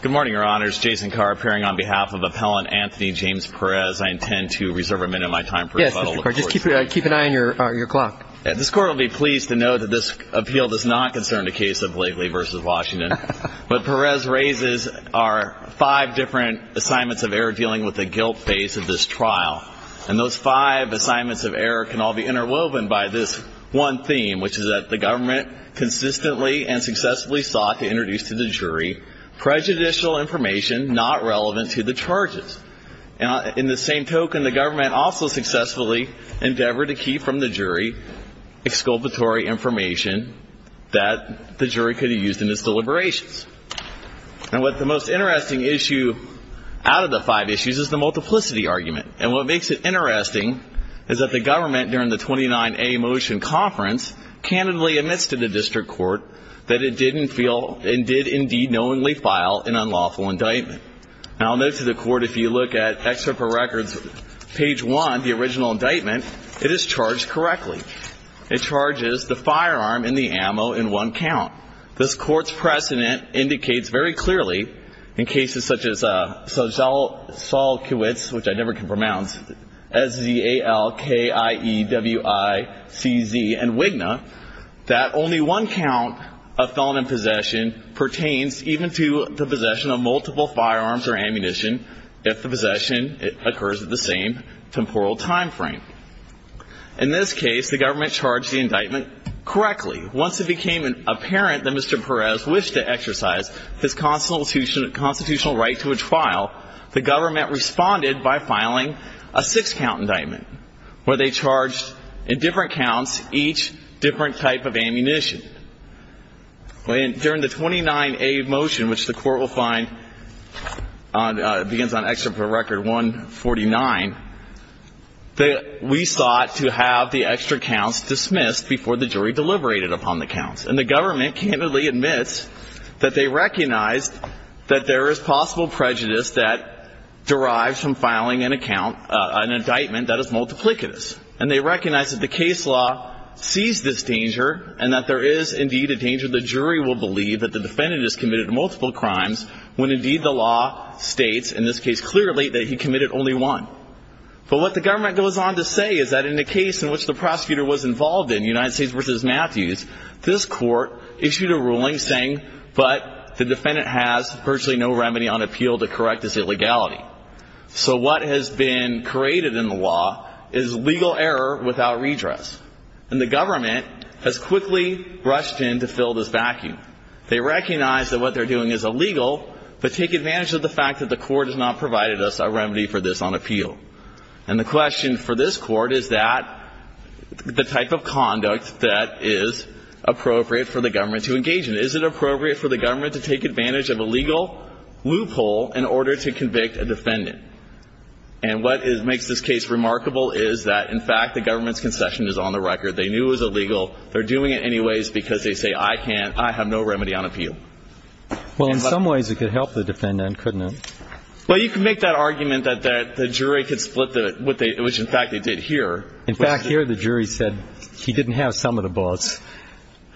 Good morning, Your Honors. Jason Carr, appearing on behalf of Appellant Anthony James Perez. I intend to reserve a minute of my time for rebuttal. Yes, Mr. Carr. Just keep an eye on your clock. This Court will be pleased to know that this appeal does not concern the case of Blakely v. Washington. But Perez raises our five different assignments of error dealing with the guilt base of this trial. And those five assignments of error can all be interwoven by this one theme, which is that the government consistently and successfully sought to introduce to the jury prejudicial information not relevant to the charges. In the same token, the government also successfully endeavored to keep from the jury exculpatory information that the jury could have used in its deliberations. And what the most interesting issue out of the five issues is the multiplicity argument. And what makes it interesting is that the government, during the 29A motion conference, candidly admits to the district court that it didn't feel and did indeed knowingly file an unlawful indictment. And I'll note to the Court, if you look at Excerpt for Records, page 1, the original indictment, it is charged correctly. It charges the firearm and the ammo in one count. This Court's precedent indicates very clearly in cases such as Solkiewicz, which I never can pronounce, S-Z-A-L-K-I-E-W-I-C-Z and Wigna, that only one count of felon in possession pertains even to the possession of multiple firearms or ammunition if the possession occurs at the same temporal time frame. In this case, the government charged the indictment correctly. Once it became apparent that Mr. Perez wished to exercise his constitutional right to a trial, the government responded by filing a six-count indictment where they charged in different counts each different type of ammunition. During the 29A motion, which the Court will find begins on Excerpt for Record 149, we sought to have the extra counts dismissed before the jury deliberated upon the counts. And the government candidly admits that they recognized that there is possible prejudice that derives from filing an account, an indictment that is multiplicitous. And they recognize that the case law sees this danger and that there is indeed a danger the jury will believe that the defendant has committed multiple crimes when, indeed, the law states in this case clearly that he committed only one. But what the government goes on to say is that in the case in which the prosecutor was involved in, United States v. Matthews, this Court issued a ruling saying, but the defendant has virtually no remedy on appeal to correct this illegality. So what has been created in the law is legal error without redress. And the government has quickly rushed in to fill this vacuum. They recognize that what they're doing is illegal, but take advantage of the fact that the Court has not provided us a remedy for this on appeal. And the question for this Court is that the type of conduct that is appropriate for the government to engage in. Is it appropriate for the government to take advantage of a legal loophole in order to convict a defendant? And what makes this case remarkable is that, in fact, the government's concession is on the record. They knew it was illegal. They're doing it anyways because they say, I can't, I have no remedy on appeal. Well, in some ways it could help the defendant, couldn't it? Well, you can make that argument that the jury could split what they, which, in fact, they did here. In fact, here the jury said he didn't have some of the bullets.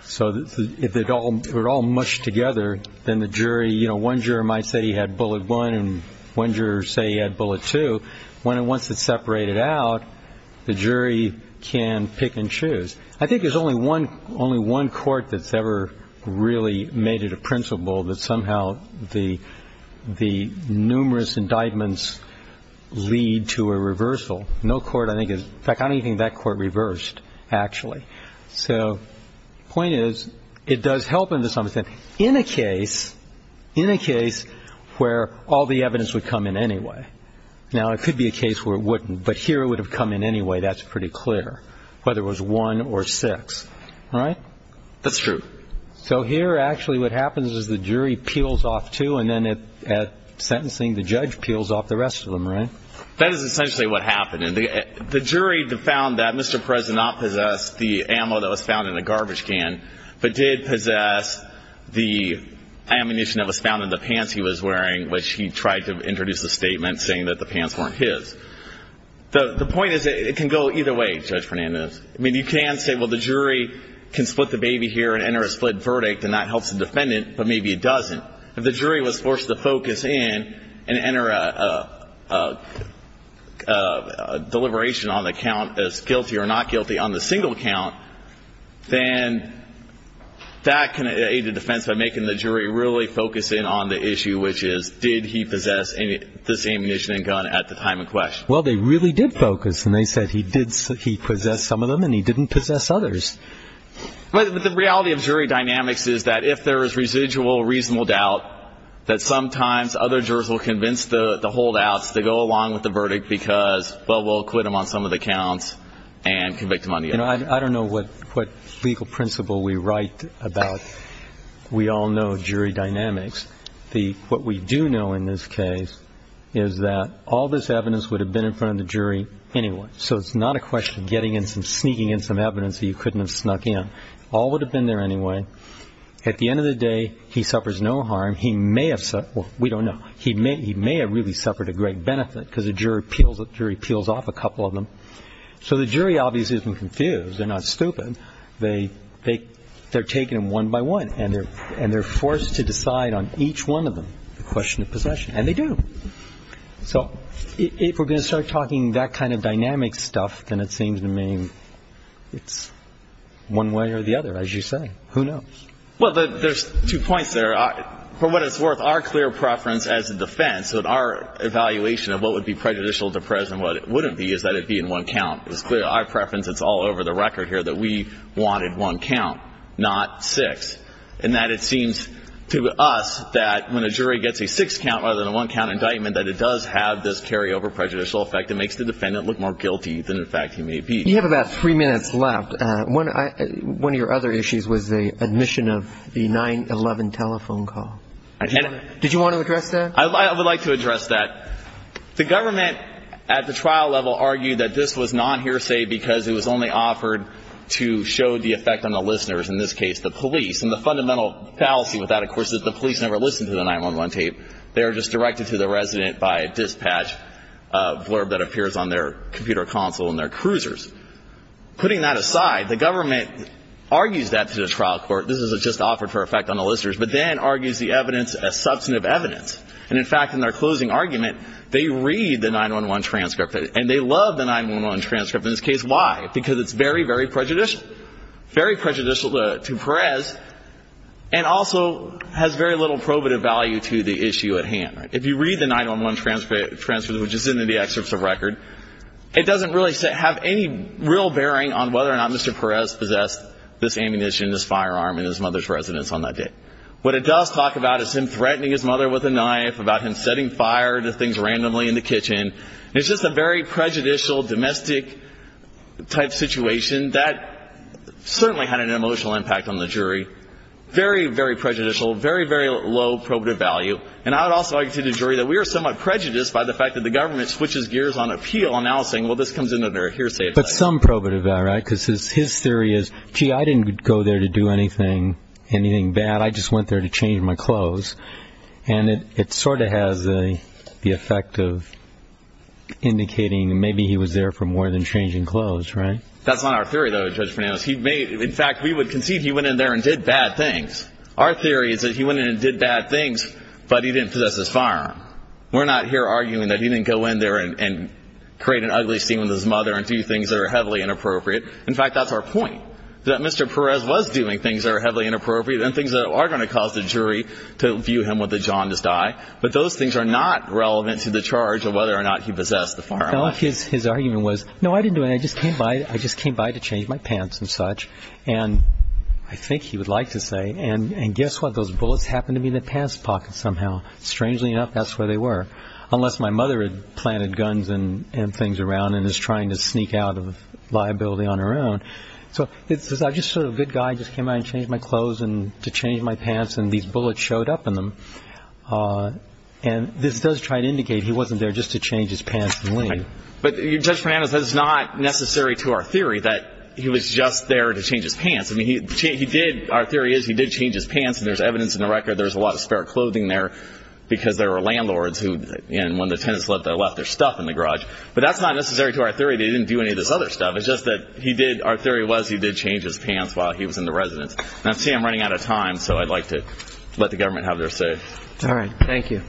So if they were all mushed together, then the jury, you know, one juror might say he had bullet one and one juror say he had bullet two. So once it's separated out, the jury can pick and choose. I think there's only one court that's ever really made it a principle that somehow the numerous indictments lead to a reversal. No court I think has, in fact, I don't even think that court reversed, actually. So the point is it does help in the sense that in a case, in a case where all the evidence would come in anyway. Now, it could be a case where it wouldn't, but here it would have come in anyway. That's pretty clear, whether it was one or six, right? That's true. So here actually what happens is the jury peels off two and then at sentencing the judge peels off the rest of them, right? That is essentially what happened. The jury found that Mr. Prez did not possess the ammo that was found in the garbage can, but did possess the ammunition that was found in the pants he was wearing, which he tried to introduce a statement saying that the pants weren't his. The point is it can go either way, Judge Fernandez. I mean, you can say, well, the jury can split the baby here and enter a split verdict and that helps the defendant, but maybe it doesn't. If the jury was forced to focus in and enter a deliberation on the count as guilty or not guilty on the single count, then that can aid the defense by making the jury really focus in on the issue, which is did he possess the same ammunition and gun at the time in question. Well, they really did focus, and they said he possessed some of them and he didn't possess others. But the reality of jury dynamics is that if there is residual reasonable doubt, that sometimes other jurors will convince the holdouts to go along with the verdict because, well, we'll quit them on some of the counts and convict them on the others. I don't know what legal principle we write about. We all know jury dynamics. What we do know in this case is that all this evidence would have been in front of the jury anyway. So it's not a question of sneaking in some evidence that you couldn't have snuck in. All would have been there anyway. At the end of the day, he suffers no harm. He may have – well, we don't know. He may have really suffered a great benefit because the jury peels off a couple of them. So the jury obviously isn't confused. They're not stupid. They're taken one by one, and they're forced to decide on each one of them, the question of possession. And they do. So if we're going to start talking that kind of dynamic stuff, then it seems to me it's one way or the other, as you say. Who knows? Well, there's two points there. For what it's worth, our clear preference as a defense, our evaluation of what would be prejudicial to present what it wouldn't be is that it be in one count. It's clear. Our preference, it's all over the record here, that we wanted one count, not six, and that it seems to us that when a jury gets a six count rather than a one count indictment, that it does have this carryover prejudicial effect. It makes the defendant look more guilty than, in fact, he may be. You have about three minutes left. One of your other issues was the admission of the 9-11 telephone call. I did. Did you want to address that? I would like to address that. The government at the trial level argued that this was not hearsay because it was only offered to show the effect on the listeners, in this case the police. And the fundamental fallacy with that, of course, is the police never listened to the 9-11 tape. They were just directed to the resident by a dispatch blurb that appears on their computer console and their cruisers. Putting that aside, the government argues that to the trial court, this is just offered for effect on the listeners, but then argues the evidence as substantive evidence. And, in fact, in their closing argument, they read the 9-11 transcript. And they love the 9-11 transcript in this case. Why? Because it's very, very prejudicial, very prejudicial to Perez, and also has very little probative value to the issue at hand. If you read the 9-11 transcript, which is in the excerpts of record, it doesn't really have any real bearing on whether or not Mr. Perez possessed this ammunition, this firearm, in his mother's residence on that day. What it does talk about is him threatening his mother with a knife, about him setting fire to things randomly in the kitchen. It's just a very prejudicial, domestic-type situation. That certainly had an emotional impact on the jury. Very, very prejudicial, very, very low probative value. And I would also argue to the jury that we are somewhat prejudiced by the fact that the government switches gears on appeal, announcing, well, this comes into their hearsay. But some probative value, right? Because his theory is, gee, I didn't go there to do anything bad. I just went there to change my clothes. And it sort of has the effect of indicating maybe he was there for more than changing clothes, right? That's not our theory, though, Judge Fernandez. In fact, we would concede he went in there and did bad things. Our theory is that he went in and did bad things, but he didn't possess this firearm. We're not here arguing that he didn't go in there and create an ugly scene with his mother and do things that are heavily inappropriate. In fact, that's our point, that Mr. Perez was doing things that are heavily inappropriate and things that are going to cause the jury to view him with a jaundiced eye. But those things are not relevant to the charge of whether or not he possessed the firearm. His argument was, no, I didn't do it. I just came by to change my pants and such. And I think he would like to say, and guess what? Those bullets happened to be in the pants pocket somehow. Strangely enough, that's where they were, unless my mother had planted guns and things around and is trying to sneak out of liability on her own. So it's just sort of a good guy just came by and changed my clothes to change my pants, and these bullets showed up in them. And this does try to indicate he wasn't there just to change his pants and leave. But, Judge Fernandez, that's not necessary to our theory that he was just there to change his pants. Our theory is he did change his pants, and there's evidence in the record there's a lot of spare clothing there because there were landlords who, when the tenants left, they left their stuff in the garage. But that's not necessary to our theory that he didn't do any of this other stuff. It's just that our theory was he did change his pants while he was in the residence. Now, see, I'm running out of time, so I'd like to let the government have their say. All right. Thank you.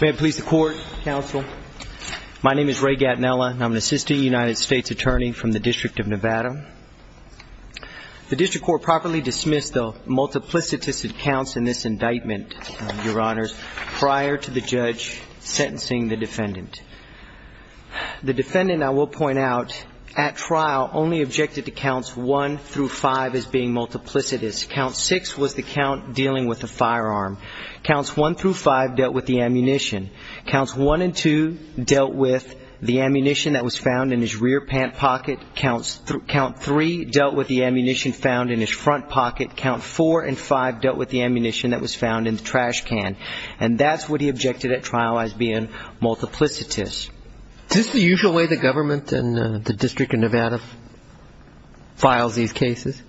May it please the Court, Counsel. My name is Ray Gatinella, and I'm an assistant United States attorney from the District of Nevada. The District Court properly dismissed the multiplicitous accounts in this indictment, Your Honors, prior to the judge sentencing the defendant. The defendant, I will point out, at trial only objected to counts 1 through 5 as being multiplicitous. Count 6 was the count dealing with the firearm. Counts 1 through 5 dealt with the ammunition. Counts 1 and 2 dealt with the ammunition that was found in his rear pant pocket. Count 3 dealt with the ammunition found in his front pocket. Count 4 and 5 dealt with the ammunition that was found in the trash can. And that's what he objected at trial as being multiplicitous. Is this the usual way the government and the District of Nevada files these cases?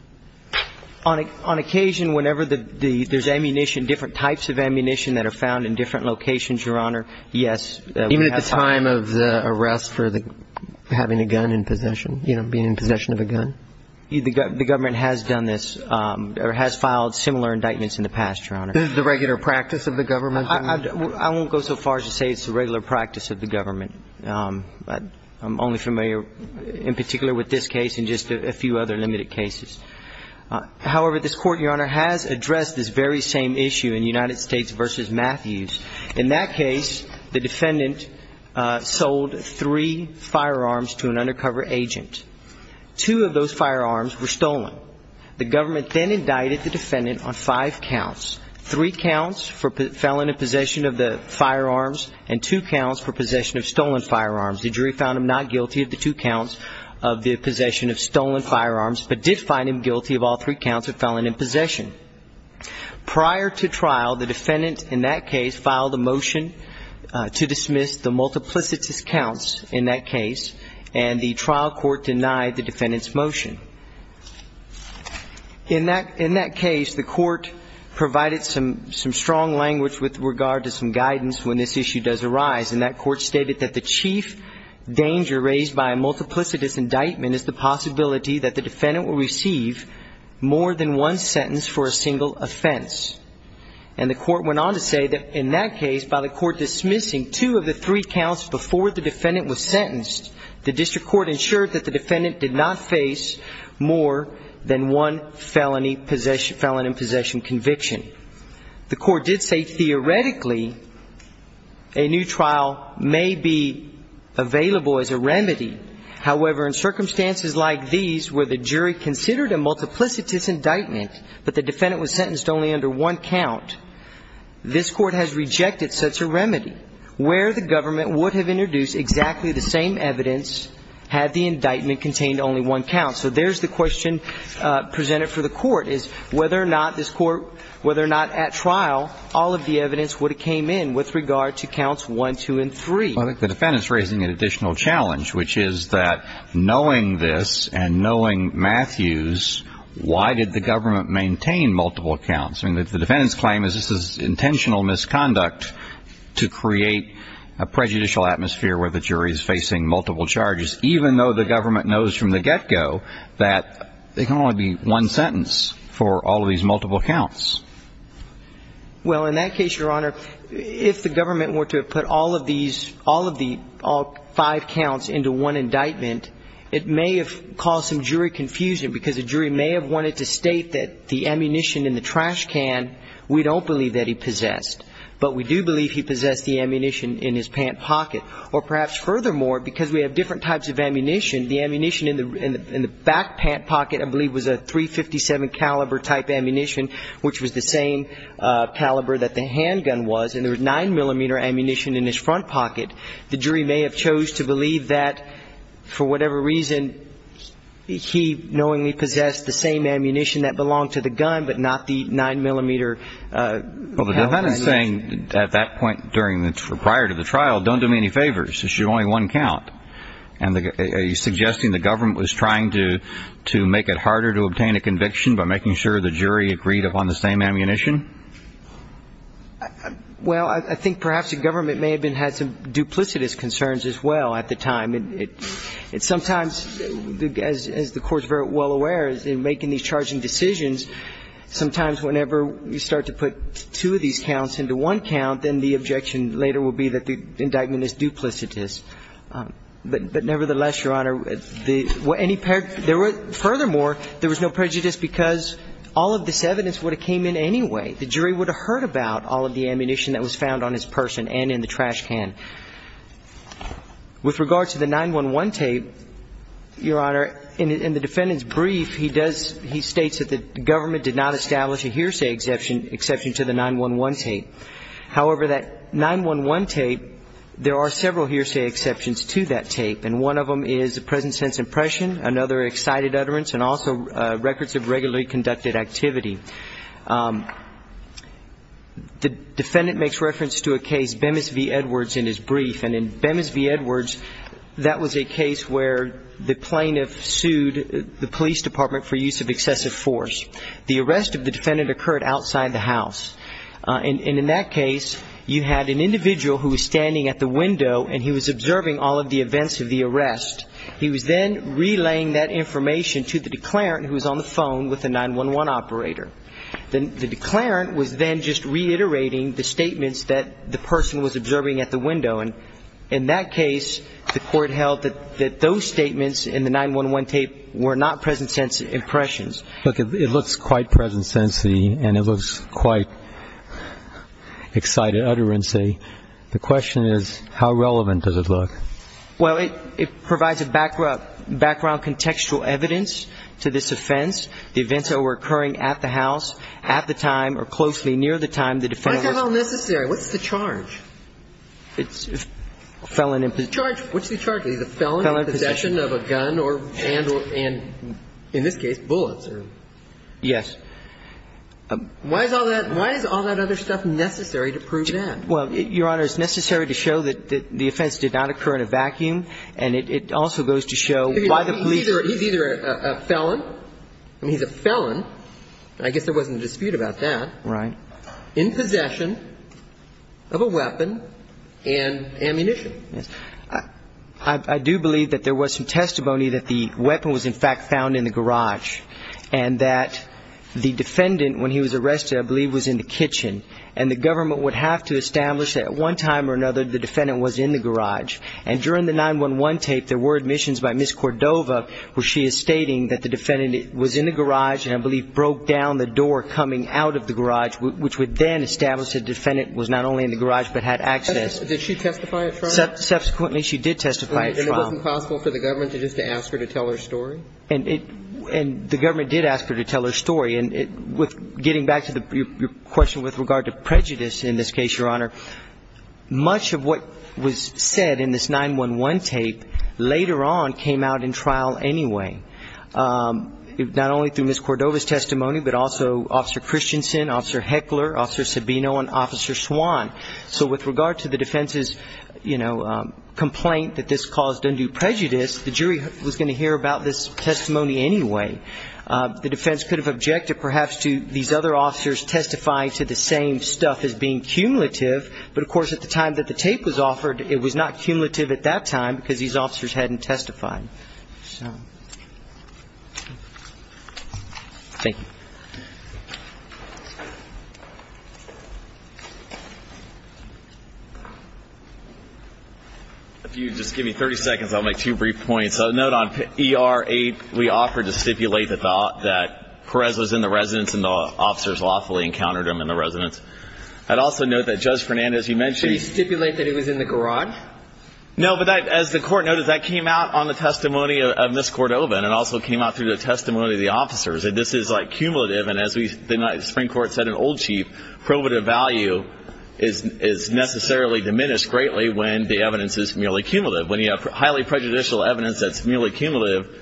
On occasion, whenever there's ammunition, that are found in different locations, Your Honor, yes. Even at the time of the arrest for having a gun in possession, you know, being in possession of a gun? The government has done this or has filed similar indictments in the past, Your Honor. Is this the regular practice of the government? I won't go so far as to say it's the regular practice of the government. I'm only familiar in particular with this case and just a few other limited cases. However, this Court, Your Honor, has addressed this very same issue in United States v. Matthews. In that case, the defendant sold three firearms to an undercover agent. Two of those firearms were stolen. The government then indicted the defendant on five counts. Three counts for felon in possession of the firearms and two counts for possession of stolen firearms. The jury found him not guilty of the two counts of the possession of stolen firearms, but did find him guilty of all three counts of felon in possession. Prior to trial, the defendant in that case filed a motion to dismiss the multiplicitous counts in that case, and the trial court denied the defendant's motion. In that case, the court provided some strong language with regard to some guidance when this issue does arise, and that court stated that the chief danger raised by a multiplicitous indictment is the possibility that the defendant will receive more than one sentence for a single offense. And the court went on to say that in that case, by the court dismissing two of the three counts before the defendant was sentenced, the district court ensured that the defendant did not face more than one felon in possession conviction. The court did say theoretically a new trial may be available as a remedy. However, in circumstances like these where the jury considered a multiplicitous indictment, but the defendant was sentenced only under one count, this court has rejected such a remedy, where the government would have introduced exactly the same evidence had the indictment contained only one count. So there's the question presented for the court, is whether or not this court, whether or not at trial, all of the evidence would have came in with regard to counts one, two, and three. Well, I think the defendant's raising an additional challenge, which is that knowing this and knowing Matthews, why did the government maintain multiple counts? I mean, the defendant's claim is this is intentional misconduct to create a prejudicial atmosphere where the jury is facing multiple charges, even though the government knows from the get-go that there can only be one sentence for all of these multiple counts. Well, in that case, Your Honor, if the government were to have put all of these, all of the five counts into one indictment, it may have caused some jury confusion because the jury may have wanted to state that the ammunition in the trash can we don't believe that he possessed, but we do believe he possessed the ammunition in his pant pocket. Or perhaps furthermore, because we have different types of ammunition, the ammunition in the back pant pocket I believe was a .357 caliber type ammunition, which was the same caliber that the handgun was, and there was 9-millimeter ammunition in his front pocket. The jury may have chose to believe that, for whatever reason, he knowingly possessed the same ammunition that belonged to the gun but not the 9-millimeter handgun. Well, the defendant is saying at that point prior to the trial, don't do me any favors. This is your only one count. And are you suggesting the government was trying to make it harder to obtain a conviction by making sure the jury agreed upon the same ammunition? Well, I think perhaps the government may have had some duplicitous concerns as well at the time. Sometimes, as the Court is very well aware, in making these charging decisions, sometimes whenever you start to put two of these counts into one count, then the objection later will be that the indictment is duplicitous. But nevertheless, Your Honor, the ñ any ñ there were ñ furthermore, there was no prejudice because all of this evidence would have came in anyway. The jury would have heard about all of the ammunition that was found on his person and in the trash can. With regard to the 911 tape, Your Honor, in the defendant's brief, he does ñ he states that the government did not establish a hearsay exception to the 911 tape. However, that 911 tape, there are several hearsay exceptions to that tape, and one of them is a present sense impression, another excited utterance, and also records of regularly conducted activity. The defendant makes reference to a case, Bemis v. Edwards, in his brief. And in Bemis v. Edwards, that was a case where the plaintiff sued the police department for use of excessive force. The arrest of the defendant occurred outside the house. And in that case, you had an individual who was standing at the window and he was observing all of the events of the arrest. He was then relaying that information to the declarant who was on the phone with the 911 operator. The declarant was then just reiterating the statements that the person was observing at the window. In that case, the court held that those statements in the 911 tape were not present sense impressions. Look, it looks quite present sense-y and it looks quite excited utterance-y. The question is, how relevant does it look? Well, it provides a background contextual evidence to this offense. The events that were occurring at the house, at the time, or closely near the time the defendant was ñ The charge, what's the charge? He's a felon in possession of a gun and, in this case, bullets. Yes. Why is all that other stuff necessary to prove that? Well, Your Honor, it's necessary to show that the offense did not occur in a vacuum. And it also goes to show why the police ñ He's either a felon. I mean, he's a felon. I guess there wasn't a dispute about that. Right. In possession of a weapon and ammunition. Yes. I do believe that there was some testimony that the weapon was, in fact, found in the garage. And that the defendant, when he was arrested, I believe was in the kitchen. And the government would have to establish that at one time or another the defendant was in the garage. And during the 911 tape, there were admissions by Ms. Cordova where she is stating that the defendant was in the garage and I believe broke down the door coming out of the garage, which would then establish the defendant was not only in the garage but had access. Did she testify at trial? Subsequently, she did testify at trial. And it wasn't possible for the government just to ask her to tell her story? And the government did ask her to tell her story. And getting back to your question with regard to prejudice in this case, Your Honor, much of what was said in this 911 tape later on came out in trial anyway, not only through Ms. Cordova's testimony but also Officer Christensen, Officer Heckler, Officer Sabino, and Officer Swan. So with regard to the defense's, you know, complaint that this caused undue prejudice, the jury was going to hear about this testimony anyway. The defense could have objected perhaps to these other officers testifying to the same stuff as being cumulative. But, of course, at the time that the tape was offered, it was not cumulative at that time because these officers hadn't testified. So thank you. If you just give me 30 seconds, I'll make two brief points. A note on ER 8, we offered to stipulate that Perez was in the residence and the officers lawfully encountered him in the residence. I'd also note that Judge Fernandez, you mentioned he was in the garage? No, but as the Court noted, that came out on the testimony of Ms. Cordova and it also came out through the testimony of the officers. This is like cumulative, and as the Supreme Court said in Old Chief, probative value is necessarily diminished greatly when the evidence is merely cumulative. When you have highly prejudicial evidence that's merely cumulative,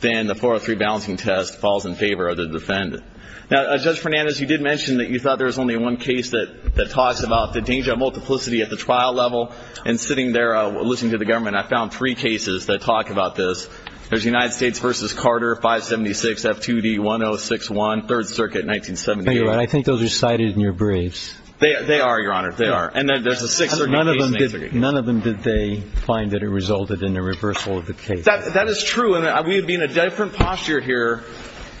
then the 403 balancing test falls in favor of the defendant. Now, Judge Fernandez, you did mention that you thought there was only one case that talks about the danger of multiplicity at the trial level. And sitting there, listening to the government, I found three cases that talk about this. There's United States v. Carter, 576 F2D 1061, 3rd Circuit, 1978. I think those are cited in your briefs. They are, Your Honor, they are. And then there's the 6th Circuit case. None of them did they find that it resulted in the reversal of the case. That is true, and we would be in a different posture here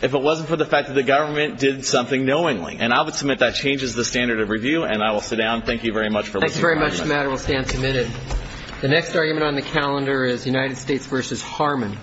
if it wasn't for the fact that the government did something knowingly. And I would submit that changes the standard of review. And I will sit down. Thank you very much for listening to my argument. Thank you very much. The matter will stand submitted. The next argument on the calendar is United States v. Harmon.